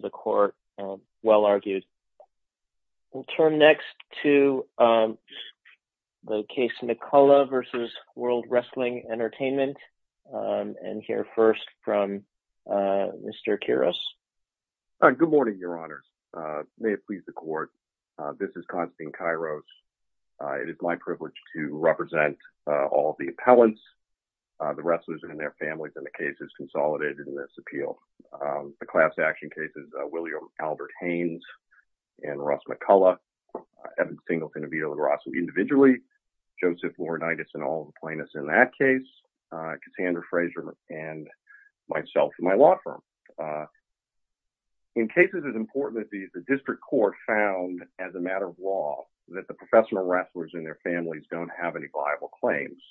the court well argued. We'll turn next to the case Nikola v. World Wrestling Entertainment and hear first from Mr. Kyros. Good morning, your honors. May it please the court. This is Constantine Kyros. It is my privilege to represent all the appellants, the wrestlers and their families in the cases consolidated in this appeal. The class action cases, William Albert Haynes and Russ McCullough, Evan Singleton and Vito LaGrasso individually, Joseph Laurinaitis and all the plaintiffs in that case, Cassandra Fraser and myself and my law firm. In cases as important as these, the district court found as a matter of law that the professional wrestlers and their families don't have any viable claims.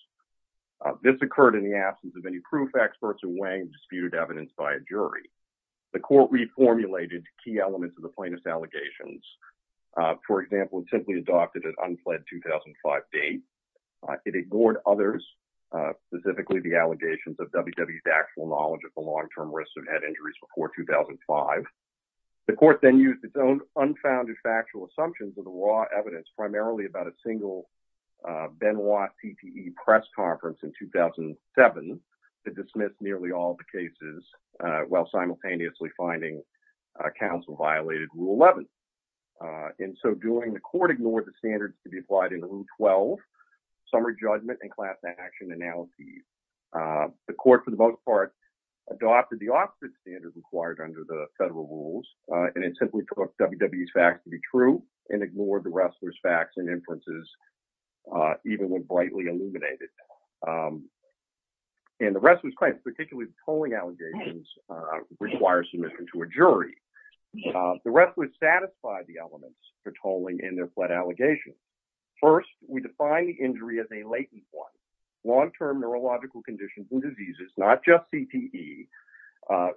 This occurred in the absence of any proof, experts or weighing disputed evidence by a jury. The court reformulated key elements of the plaintiff's allegations. For example, it simply adopted an unfled 2005 date. It ignored others, specifically the allegations of WWE's actual knowledge of the long-term risks of head injuries before 2005. The court then used its own unfounded factual assumptions of the raw evidence, primarily about a single Benoit TPE press conference in 2007 to dismiss nearly all of the cases while simultaneously finding counsel violated Rule 11. In so doing, the court ignored the standards to be applied in Rule 12, summary judgment and class action analyses. The court, for the most part, adopted the opposite standards required under the federal rules, and it simply took WWE's facts to be true and ignored the wrestlers' facts and inferences, even when brightly illuminated. And the wrestlers' claims, particularly the tolling allegations, require submission to a jury. The wrestlers satisfied the elements for tolling in their fled allegations. First, we define the injury as a latent one, long-term neurological conditions and diseases, not just TPE,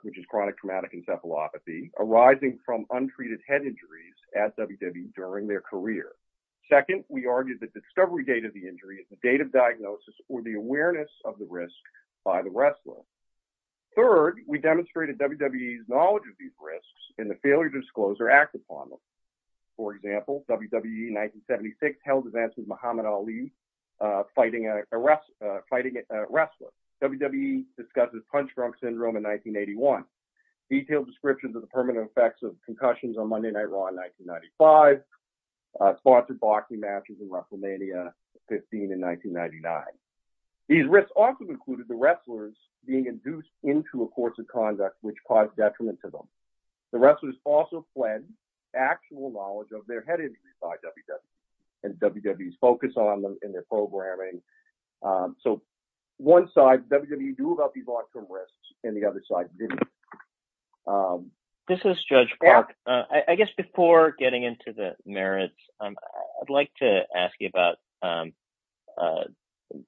which is chronic traumatic encephalopathy, arising from untreated head injuries at WWE during their career. Second, we argue that the discovery date of the injury is the date of diagnosis or the awareness of the risk by the wrestler. Third, we demonstrated WWE's knowledge of these risks and the failure to disclose or act upon them. For example, WWE in 1976 held events with Detailed descriptions of the permanent effects of concussions on Monday Night Raw in 1995, sponsored boxing matches in WrestleMania 15 in 1999. These risks also included the wrestlers being induced into a course of conduct which caused detriment to them. The wrestlers also fled actual knowledge of their head injuries by WWE and WWE's focus on them in their programming. So, one side, WWE knew about these long-term risks, and the other side didn't. This is Judge Clark. I guess before getting into the merits, I'd like to ask you about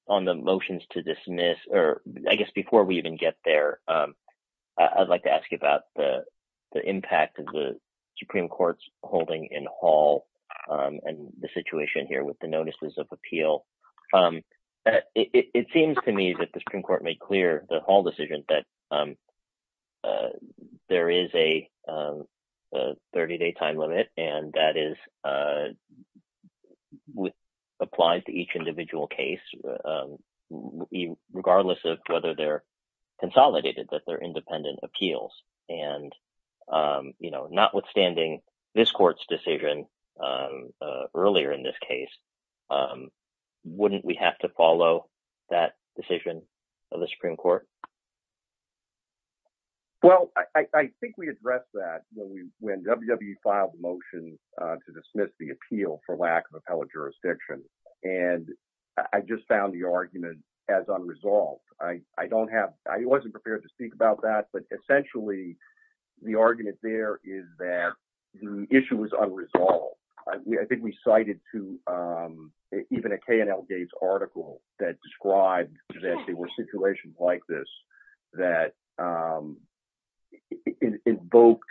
on the motions to dismiss, or I guess before we even get there, I'd like to ask you about the impact of the Supreme Court's holding in Hall and the situation here with the notices of appeal. It seems to me that the Supreme Court made clear the Hall decision that there is a 30-day time limit, and that is applied to each individual case, regardless of whether they're consolidated, that they're independent appeals. And notwithstanding this court's decision earlier in this case, wouldn't we have to follow that decision of the Supreme Court? Well, I think we addressed that when WWE filed a motion to dismiss the appeal for lack of appellate jurisdiction, and I just found the argument as unresolved. I wasn't prepared to the argument there is that the issue was unresolved. I think we cited even a K&L Gates article that described that there were situations like this that invoked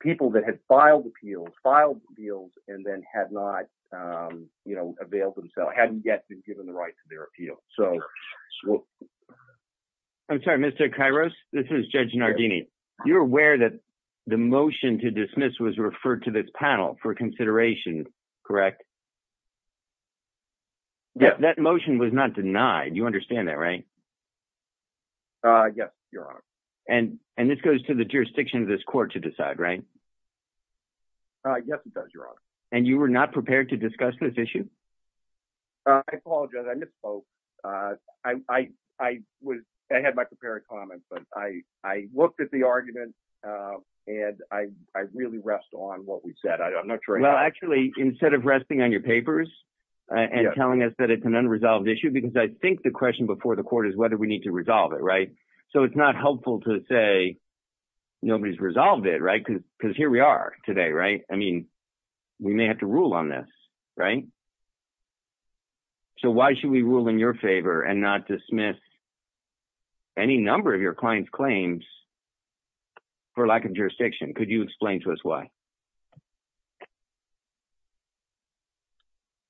people that had filed appeals and then had not availed themselves, hadn't yet been given the right to their appeal. I'm sorry, Mr. Kairos, this is Judge Nardini. You're aware that the motion to dismiss was referred to this panel for consideration, correct? Yes. That motion was not denied. You understand that, right? Yes, Your Honor. And this goes to the jurisdiction of this court to decide, right? Yes, it does, Your Honor. And you were not prepared to discuss this issue? I apologize. I misspoke. I had my prepared comments, but I looked at the argument, and I really rest on what we said. I'm not sure... Well, actually, instead of resting on your papers and telling us that it's an unresolved issue, because I think the question before the court is whether we need to resolve it, right? So it's not helpful to say nobody's resolved it, right? Because here we are today, right? I mean, we may have to rule on this, right? So why should we rule in your favor and not dismiss any number of your client's claims for lack of jurisdiction? Could you explain to us why?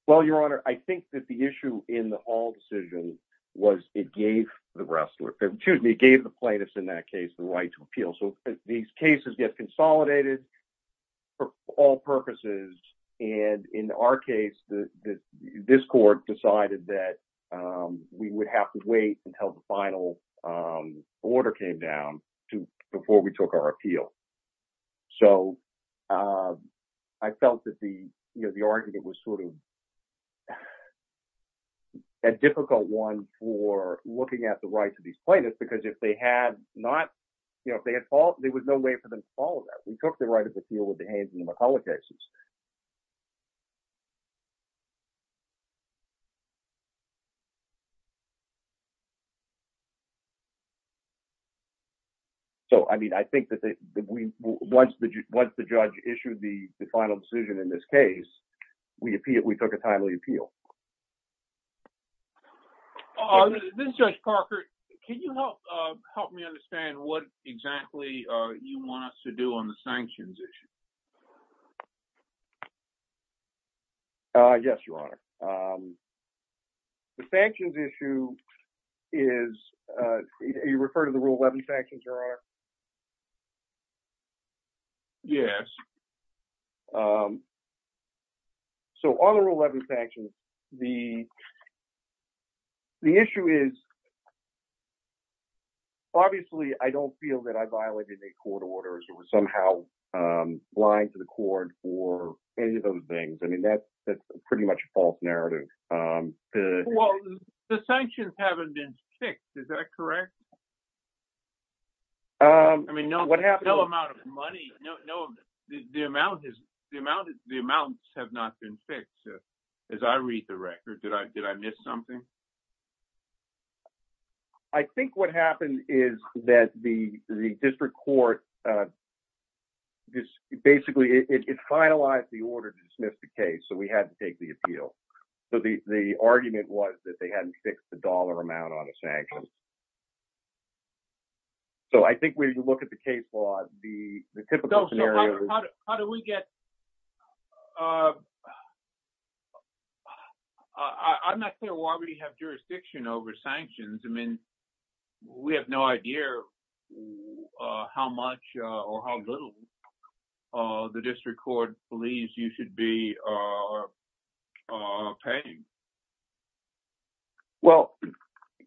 Well, Your Honor, I think that the issue in the Hall decision was it gave the rest, excuse me, it gave the plaintiffs in that case the right to appeal. So these cases get consolidated for all purposes. And in our case, this court decided that we would have to wait until the final order came down before we took our appeal. So I felt that the argument was sort of a difficult one for looking at the rights of plaintiffs, because if they had not, you know, if they had fault, there was no way for them to follow that. We took the right of appeal with the Haynes and McCulloch cases. So, I mean, I think that once the judge issued the final decision in this case, we took a timely appeal. This is Judge Parker. Can you help me understand what exactly you want us to do on the sanctions issue? Yes, Your Honor. The sanctions issue is, you refer to the Rule 11 sanctions, Your Honor? Yes. So on the Rule 11 sanctions, the issue is, obviously, I don't feel that I violated any court orders or was somehow lying to the court for any of those things. I mean, that's pretty much a false narrative. Well, the sanctions haven't been fixed. Is that correct? I mean, no amount of money. The amounts have not been fixed, as I read the record. Did I miss something? I think what happened is that the district court, basically, it finalized the order to dismiss the case. So we had to take the appeal. So the argument was that they hadn't fixed the dollar amount on the sanctions. So I think when you look at the case law, the typical scenario— How do we get—I'm not sure why we have jurisdiction over sanctions. I mean, we have no idea how much or how little the district court believes you should be paying. Well,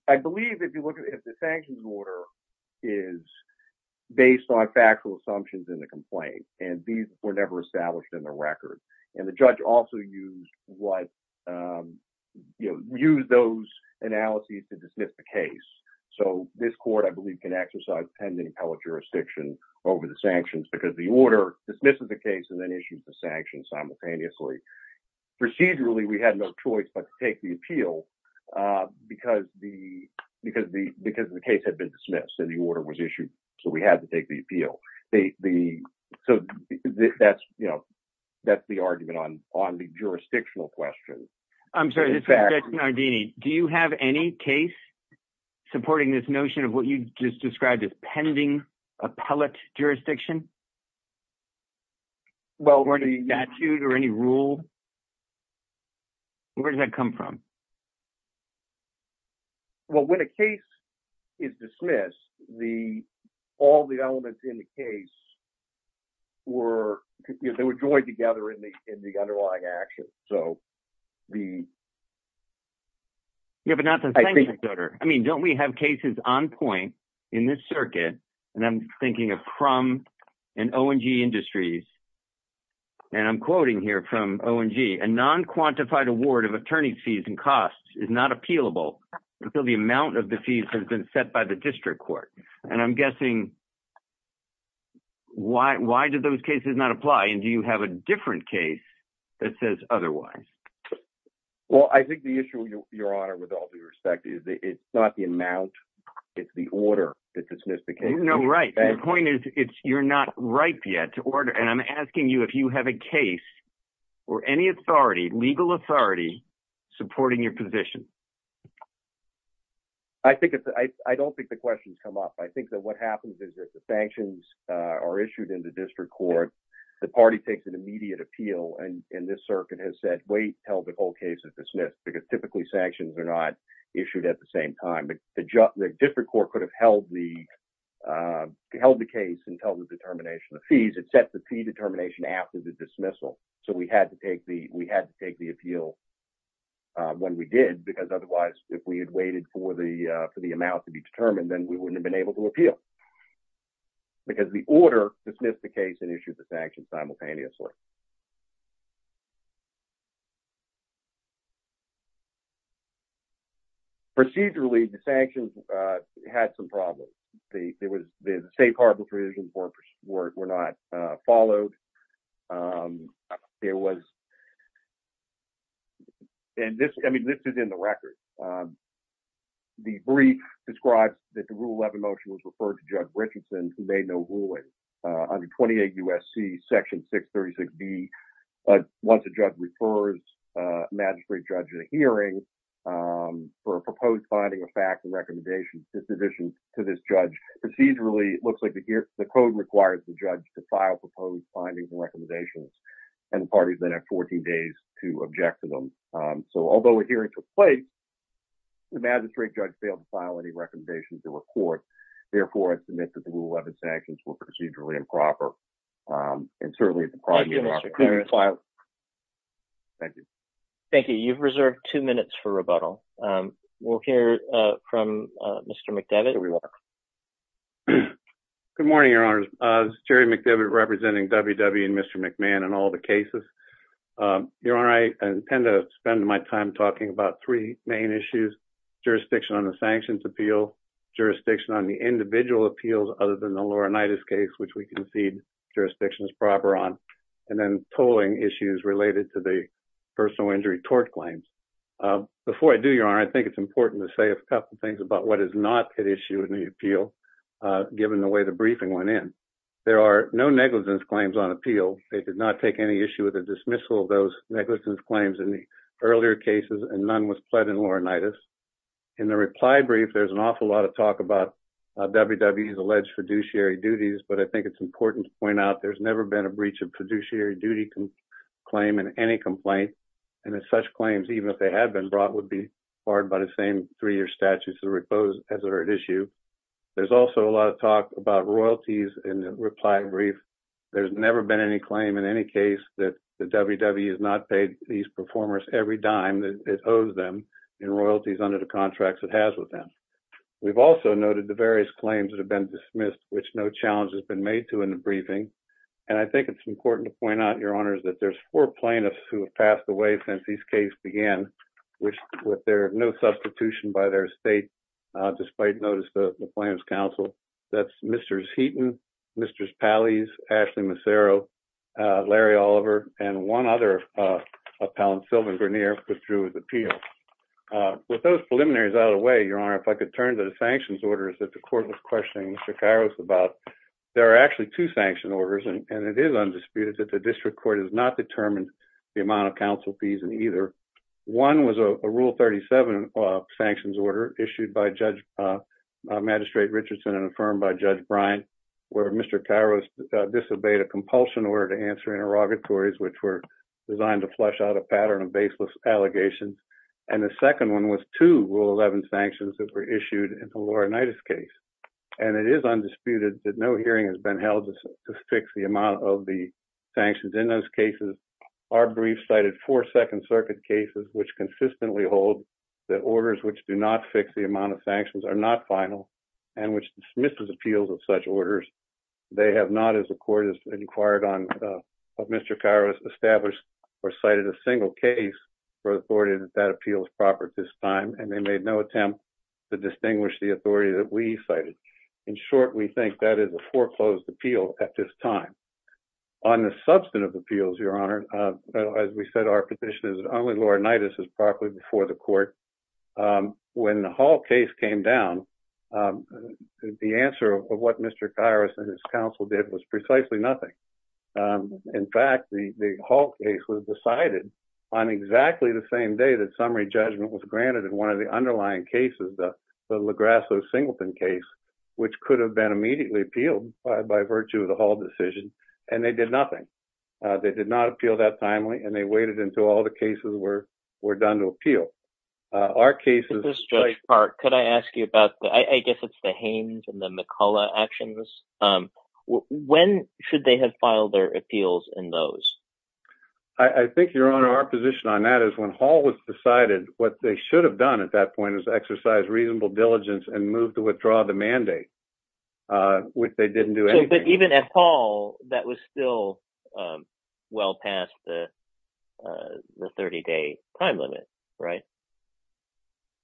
I believe if you look at it, the sanctions order is based on factual assumptions in the complaint, and these were never established in the record. And the judge also used those analyses to dismiss the case. So this court, I believe, can exercise pending appellate jurisdiction over the sanctions because the order dismisses the case and then issues the sanctions simultaneously. Procedurally, we had no choice but to take the appeal because the case had been dismissed and the order was issued. So we had to take the appeal. So that's the argument on the jurisdictional question. I'm sorry, this is Judge Nardini. Do you have any case supporting this notion of what you just described as pending appellate jurisdiction? Well, the— Or any statute or any rule? Where does that come from? Well, when a case is dismissed, all the elements in the case were—they were joined together in the underlying action. So the— Yeah, but not the sanctions order. I mean, don't we have cases on point in this circuit? And I'm in O&G Industries, and I'm quoting here from O&G, a non-quantified award of attorney's fees and costs is not appealable until the amount of the fees has been set by the district court. And I'm guessing, why do those cases not apply? And do you have a different case that says otherwise? Well, I think the issue, Your Honor, with all due respect is that it's not the amount, it's the order that dismisses the case. No, right. The point is it's—you're not ripe yet to order. And I'm asking you if you have a case or any authority, legal authority, supporting your position. I think it's—I don't think the question's come up. I think that what happens is that the sanctions are issued in the district court, the party takes an immediate appeal, and this circuit has said, wait, tell the whole case is dismissed, because typically sanctions are not held the case until the determination of fees. It sets the fee determination after the dismissal. So we had to take the—we had to take the appeal when we did, because otherwise, if we had waited for the amount to be determined, then we wouldn't have been able to appeal, because the order dismissed the case and issued the sanctions simultaneously. Procedurally, the sanctions had some problems. The state harbor provisions were not followed. It was—and this—I mean, this is in the record. The brief describes that the Rule 11 was referred to Judge Richardson, who made no ruling. Under 28 U.S.C. Section 636B, once a judge refers a magistrate judge in a hearing for a proposed finding of facts and recommendations, this addition to this judge procedurally—it looks like the code requires the judge to file proposed findings and recommendations, and the parties then have 14 days to object to them. So although a hearing took place, the magistrate judge failed to file any recommendations to a court. Therefore, I submit that the Rule 11 sanctions were procedurally improper. And certainly— Thank you. Thank you. You've reserved two minutes for rebuttal. We'll hear from Mr. McDevitt. Here we are. Good morning, Your Honors. Jerry McDevitt representing WW and Mr. McMahon and all the cases. Your Honor, I intend to spend my time talking about three main issues—jurisdiction on the sanctions appeal, jurisdiction on the individual appeals other than the Laurinaitis case, which we concede jurisdiction is proper on, and then tolling issues related to the personal injury tort claims. Before I do, Your Honor, I think it's important to say a couple things about what is not at issue in the appeal, given the way the briefing went in. There are no negligence claims on appeal. They did not take any issue with the dismissal of those negligence claims in the earlier cases, and none was pled in Laurinaitis. In the reply brief, there's an awful lot of talk about WW's alleged fiduciary duties, but I think it's important to point out there's never been a breach of fiduciary duty claim in any complaint, and that such claims, even if they had been brought, would be barred by the same three-year statutes as are at issue. There's also a lot of talk about royalties in the reply brief. There's never been any claim in any case that the WW has not paid these performers every dime that it owes them in royalties under the contracts it has with them. We've also noted the various claims that have been dismissed, which no challenge has been made to in the briefing, and I think it's important to point out, Your Honors, that there's four plaintiffs who have passed away since this case began, with no substitution by their estate, despite notice to the Plaintiffs' Council. That's Mr. Heaton, Mr. Pallese, Ashley Massaro, Larry Oliver, and one other, Sylvan Vernier, who withdrew his appeal. With those preliminaries out of the way, Your Honor, if I could turn to the sanctions orders that the Court was questioning Mr. Kairos about. There are actually two sanction orders, and it is undisputed that the District Court has not determined the amount of counsel fees in either. One was a Rule 37 sanctions order issued by Magistrate Richardson and affirmed by Judge Brine, where Mr. Kairos disobeyed a compulsion order to answer interrogatories which were designed to flesh out a pattern of baseless allegations, and the second one was two Rule 11 sanctions that were issued in the Laurinaitis case, and it is undisputed that no hearing has been held to fix the amount of the sanctions in those cases. Our brief cited four Second Circuit cases which consistently hold that orders which do not fix the amount of sanctions are not final and which dismisses appeals of such orders. They have not, as the Court has inquired on Mr. Kairos, established or cited a single case for authority that appeals proper at this time, and they made no attempt to distinguish the authority that we cited. In short, we think that is a foreclosed appeal at this time. On the substantive appeals, Your Honor, as we said, our position is that only Laurinaitis is properly before the Court. When the Hall case came down, the answer of what Mr. Kairos and his counsel did was precisely nothing. In fact, the Hall case was decided on exactly the same day that summary judgment was granted in one of the underlying cases, the Lagrasso-Singleton case, which could have been immediately appealed by virtue of the Hall decision, and they did nothing. They did not appeal that timely, and they waited until all the cases were done to appeal. Our case is... Mr. Judge Park, could I ask you about the... I guess it's the Haines and the McCullough actions. When should they have filed their appeals in those? I think, Your Honor, our position on that is when Hall was decided, what they should have done at that point is exercise reasonable diligence and move to withdraw the mandate, which they didn't do anything. But even at Hall, that was still well past the 30-day time limit, right?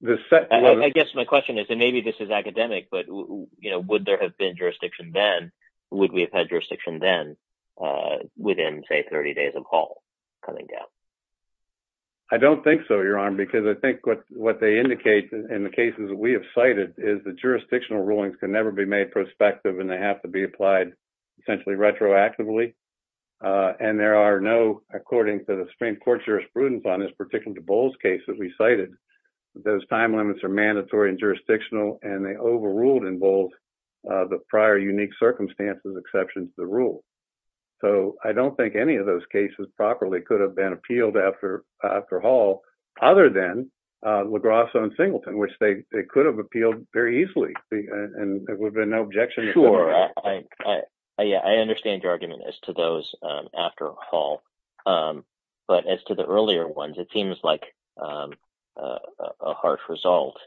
I guess my question is, and maybe this is academic, but would there have been jurisdiction then? Would we have had jurisdiction then within, say, 30 days of Hall coming down? I don't think so, Your Honor, because I think what they indicate in the cases that we have is that jurisdictional rulings can never be made prospective, and they have to be applied essentially retroactively. And there are no, according to the Supreme Court jurisprudence on this, particularly the Bowles case that we cited, those time limits are mandatory and jurisdictional, and they overruled in Bowles the prior unique circumstances exception to the rule. So I don't think any of those cases properly could have been appealed after Hall, other than Singleton, which they could have appealed very easily, and there would have been no objection. Sure. Yeah, I understand your argument as to those after Hall. But as to the earlier ones, it seems like a harsh result.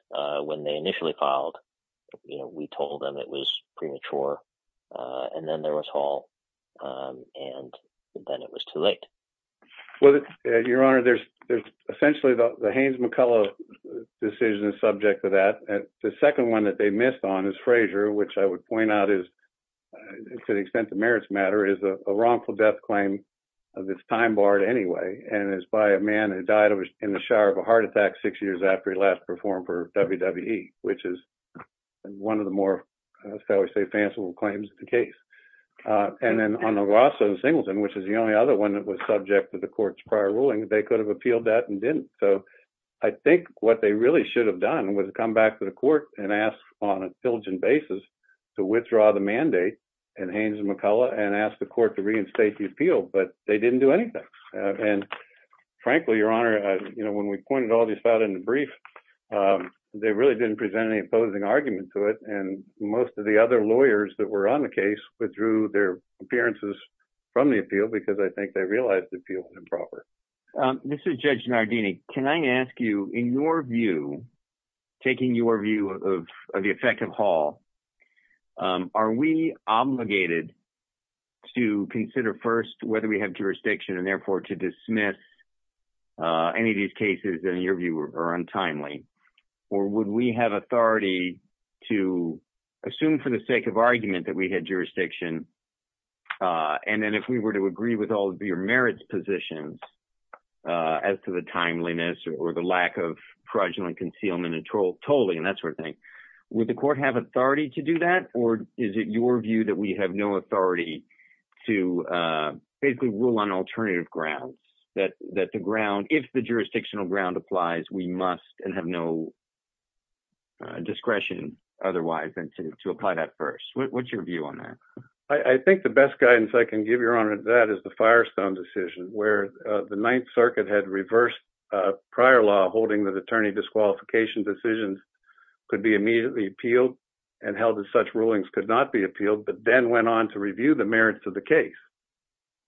When they initially filed, we told them it was premature, and then there was Hall, and then it was too late. Well, Your Honor, there's essentially the Haynes-McCullough decision is subject to that, and the second one that they missed on is Frazier, which I would point out is, to the extent the merits matter, is a wrongful death claim of its time barred anyway, and it's by a man who died in the shower of a heart attack six years after he last performed for WWE, which is one of the more, shall we say, fanciful claims of the case. And then on the subject of the court's prior ruling, they could have appealed that and didn't. So I think what they really should have done was come back to the court and ask, on a diligent basis, to withdraw the mandate in Haynes-McCullough and ask the court to reinstate the appeal, but they didn't do anything. And frankly, Your Honor, when we pointed all these out in the brief, they really didn't present any opposing argument to it, and most of the other lawyers that were on the case withdrew their appearances from the appeal because I think they realized the appeal was improper. This is Judge Nardini. Can I ask you, in your view, taking your view of the effect of Hall, are we obligated to consider first whether we have jurisdiction and therefore to dismiss any of these cases that, in your view, are untimely? Or would we have authority to assume for the sake of argument that we had jurisdiction, and then if we were to agree with all of your merits positions as to the timeliness or the lack of fraudulent concealment and tolling and that sort of thing, would the court have authority to do that? Or is it your view that we have no authority to basically rule on alternative grounds, that the ground, if the jurisdictional ground applies, we must and have no discretion otherwise than to apply that first? What's your view on that? I think the best guidance I can give, Your Honor, that is the Firestone decision, where the Ninth Circuit had reversed prior law holding that attorney disqualification decisions could be immediately appealed and held that such rulings could not be appealed, but then went on to review the merits of the case.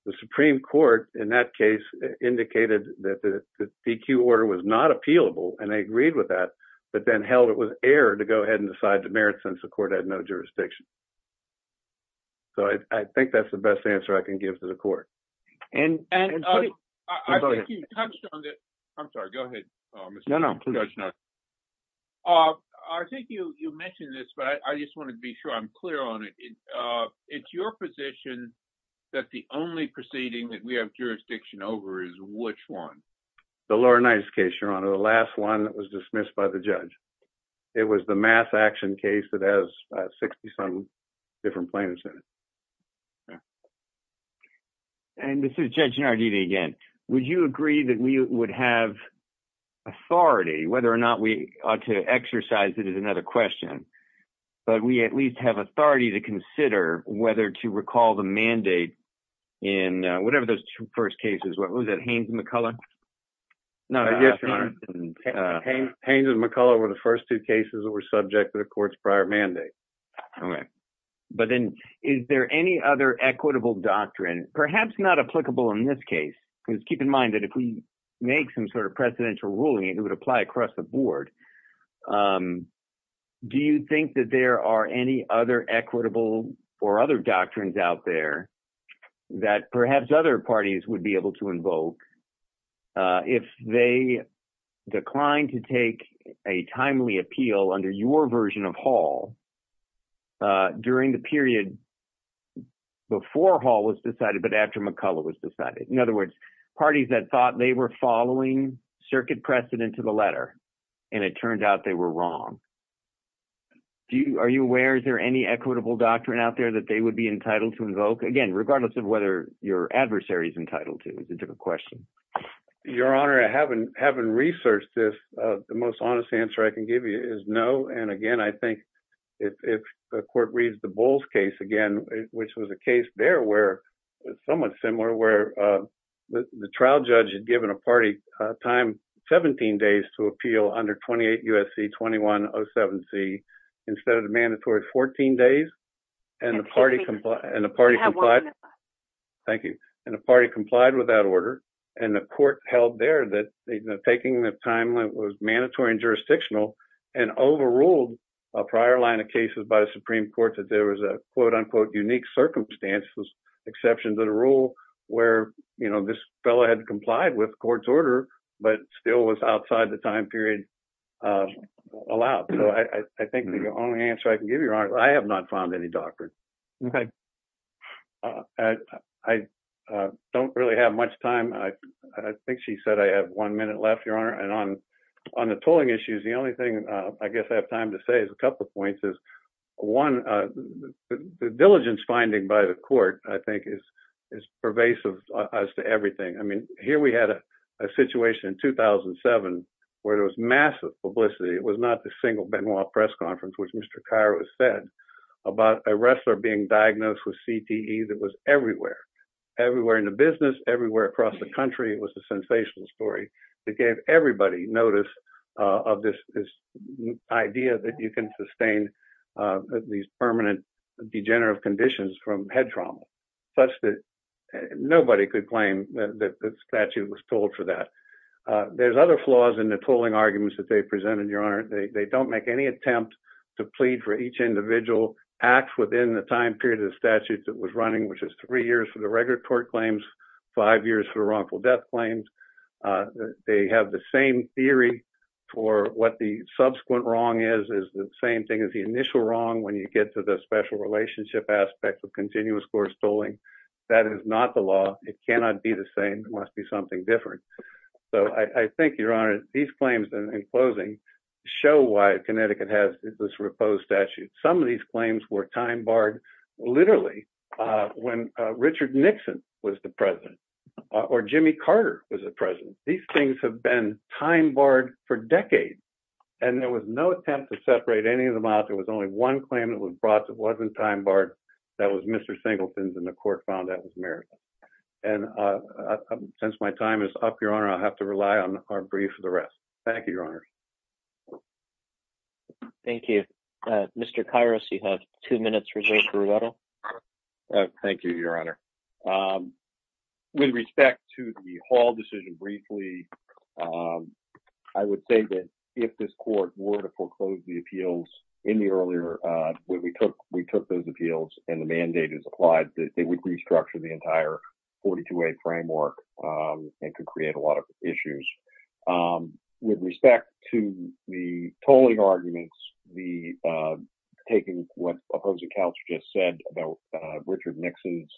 The Supreme Court, in that case, indicated that the DQ order was not appealable, and they agreed with that, but then held it was error to go ahead and decide the merits since the court had no jurisdiction. So I think that's the best answer I can give to the court. And I think you touched on this. I'm sorry, go ahead, Mr. Judge. I think you mentioned this, but I just want to be sure I'm clear on it. It's your position that the only proceeding that we have jurisdiction over is which one? The Lower Ninth's case, Your Honor, the last one that was dismissed by the judge. It was the mass action case that has 60-some different plaintiffs in it. And this is Judge Nardini again. Would you agree that we would have authority, whether or not we exercise it is another question, but we at least have authority to consider whether to recall the mandate in whatever those first cases were. Was that Haynes and McCullough? No, yes, Your Honor. Haynes and McCullough were the first two cases that were subject to the court's prior mandate. Okay. But then is there any other equitable doctrine, perhaps not applicable in this case? Because keep in mind that if we make some sort of precedential ruling, it would apply across the board. Do you think that there are any other equitable or other doctrines out there that perhaps other parties would be able to invoke if they declined to take a timely appeal under your version of Hall during the period before Hall was decided, but after McCullough was decided? In other words, parties that thought they were following circuit precedent to the letter and it turned out they were wrong. Are you aware, is there any equitable doctrine out there that they would be entitled to invoke? Again, regardless of whether your adversary is entitled to, is a different question. Your Honor, I haven't researched this. The most honest answer I can give you is no. And again, I think if the court reads the Bowles case again, which was a case there where it's somewhat similar, where the trial judge had given a party time 17 days to appeal under 28 U.S.C. 2107C instead of the mandatory 14 days. And the party complied with that order. And the court held there that taking the time that was mandatory and jurisdictional and overruled a prior line of cases by the Supreme Court that there was a quote unquote unique circumstances exception to the rule where this fellow had complied with court's order, but still was outside the time period allowed. So I think the only answer I can give you, Your Honor, I have not found any doctrine. I don't really have much time. I think she said I have one minute left, Your Honor. And on the tolling issues, the only thing I guess I have to say is a couple of points is one, the diligence finding by the court, I think is pervasive as to everything. I mean, here we had a situation in 2007 where there was massive publicity. It was not the single Benoit press conference, which Mr. Cairo has said about a wrestler being diagnosed with CTE that was everywhere, everywhere in the business, everywhere across the country. It was a sensational story that gave everybody notice of this idea that you can sustain these permanent degenerative conditions from head trauma such that nobody could claim that the statute was told for that. There's other flaws in the tolling arguments that they presented, Your Honor. They don't make any attempt to plead for each individual act within the time period of the statute that was running, which is three years for the regular court claims, five years for the wrongful death claims. They have the same theory for what the subsequent wrong is, is the same thing as the initial wrong when you get to the special relationship aspect of continuous course tolling. That is not the law. It cannot be the same. It must be something different. So I think, Your Honor, these claims in closing show why Connecticut has this reposed statute. Some of these claims were time barred literally when Richard Nixon was the president or Jimmy Carter was the president. These things have been time barred for decades and there was no attempt to separate any of them out. There was only one claim that was brought that wasn't time barred. That was Mr. Singleton's and the court found that was merit. And since my time is up, Your Honor, I'll have to rely on our brief for the rest. Thank you, Your Honor. Thank you, Mr. Kairos. You have two minutes. Thank you, Your Honor. With respect to the Hall decision, briefly, I would say that if this court were to foreclose the appeals in the earlier when we took we took those appeals and the mandate is applied, that they would restructure the entire 42-A framework and could create a lot of issues. With respect to the tolling arguments, taking what Opposite Couch just said about Richard Nixon's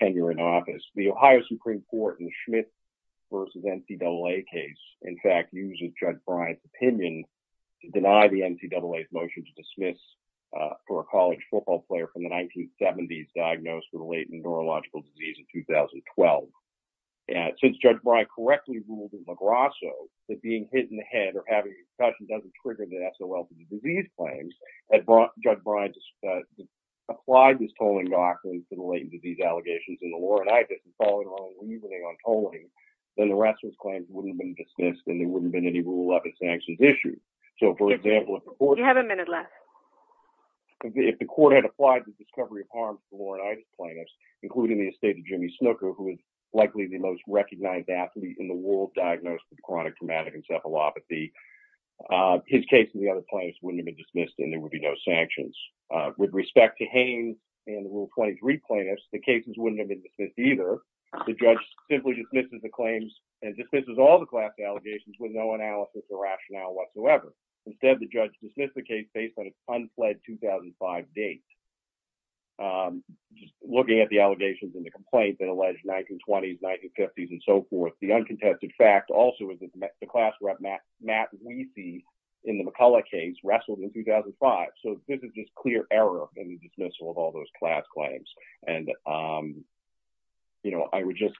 tenure in office, the Ohio Supreme Court in the Schmidt versus NCAA case, in fact, uses Judge Bryant's opinion to deny the NCAA's motion to dismiss for a college football player from the 1970s diagnosed with a latent neurological disease in 2012. Since Judge Bryant correctly ruled in LaGrasso that being hit in the head or having a concussion doesn't trigger the S.O.L. for the disease claims, had Judge Bryant applied this tolling doctrine to the latent disease allegations in the Laurent-Idas and followed along with reasoning on tolling, then the rest of his claims wouldn't have been dismissed and there wouldn't have been any rule of sanctions issues. So, for example, if the court- You have a minute left. If the court had applied the discovery of harm to the Laurent-Idas plaintiffs, including the estate of Jimmy Snooker, who is likely the most recognized athlete in the world diagnosed with chronic traumatic encephalopathy, his case and the other plaintiffs wouldn't have been dismissed and there would be no sanctions. With respect to Haines and the Rule 23 plaintiffs, the cases wouldn't have been dismissed either. The judge simply dismisses the claims and dismisses all the class allegations with no analysis or rationale whatsoever. Instead, the judge dismissed the case based on its unfled 2005 date. Just looking at the allegations in the complaint that allege 1920s, 1950s, and so forth, the uncontested fact also is that the class rep, Matt Wiese, in the McCullough case wrestled in 2005. So, this is just clear error in the dismissal of all those class claims. And, you know, I would just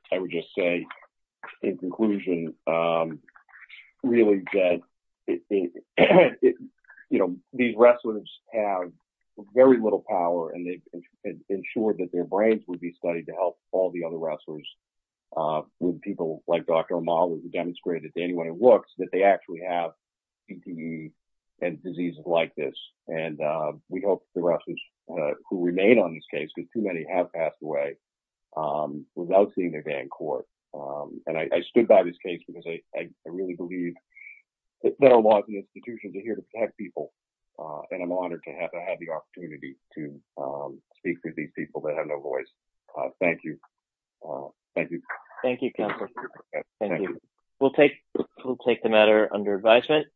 say in conclusion, really that these wrestlers have very little power and they ensured that their brains would be studied to help all the other wrestlers with people like Dr. Amal who demonstrated to anyone who looks that they actually have PTE and diseases like this. And we hope the wrestlers who remain on this case, because too many have passed away, without seeing their day in court. And I stood by this case because I really believe that there are laws and institutions are here to protect people. And I'm honored to have the opportunity to speak to these people that have no voice. Thank you. Thank you. Thank you, counsel. Thank you. We'll take the matter under advisement.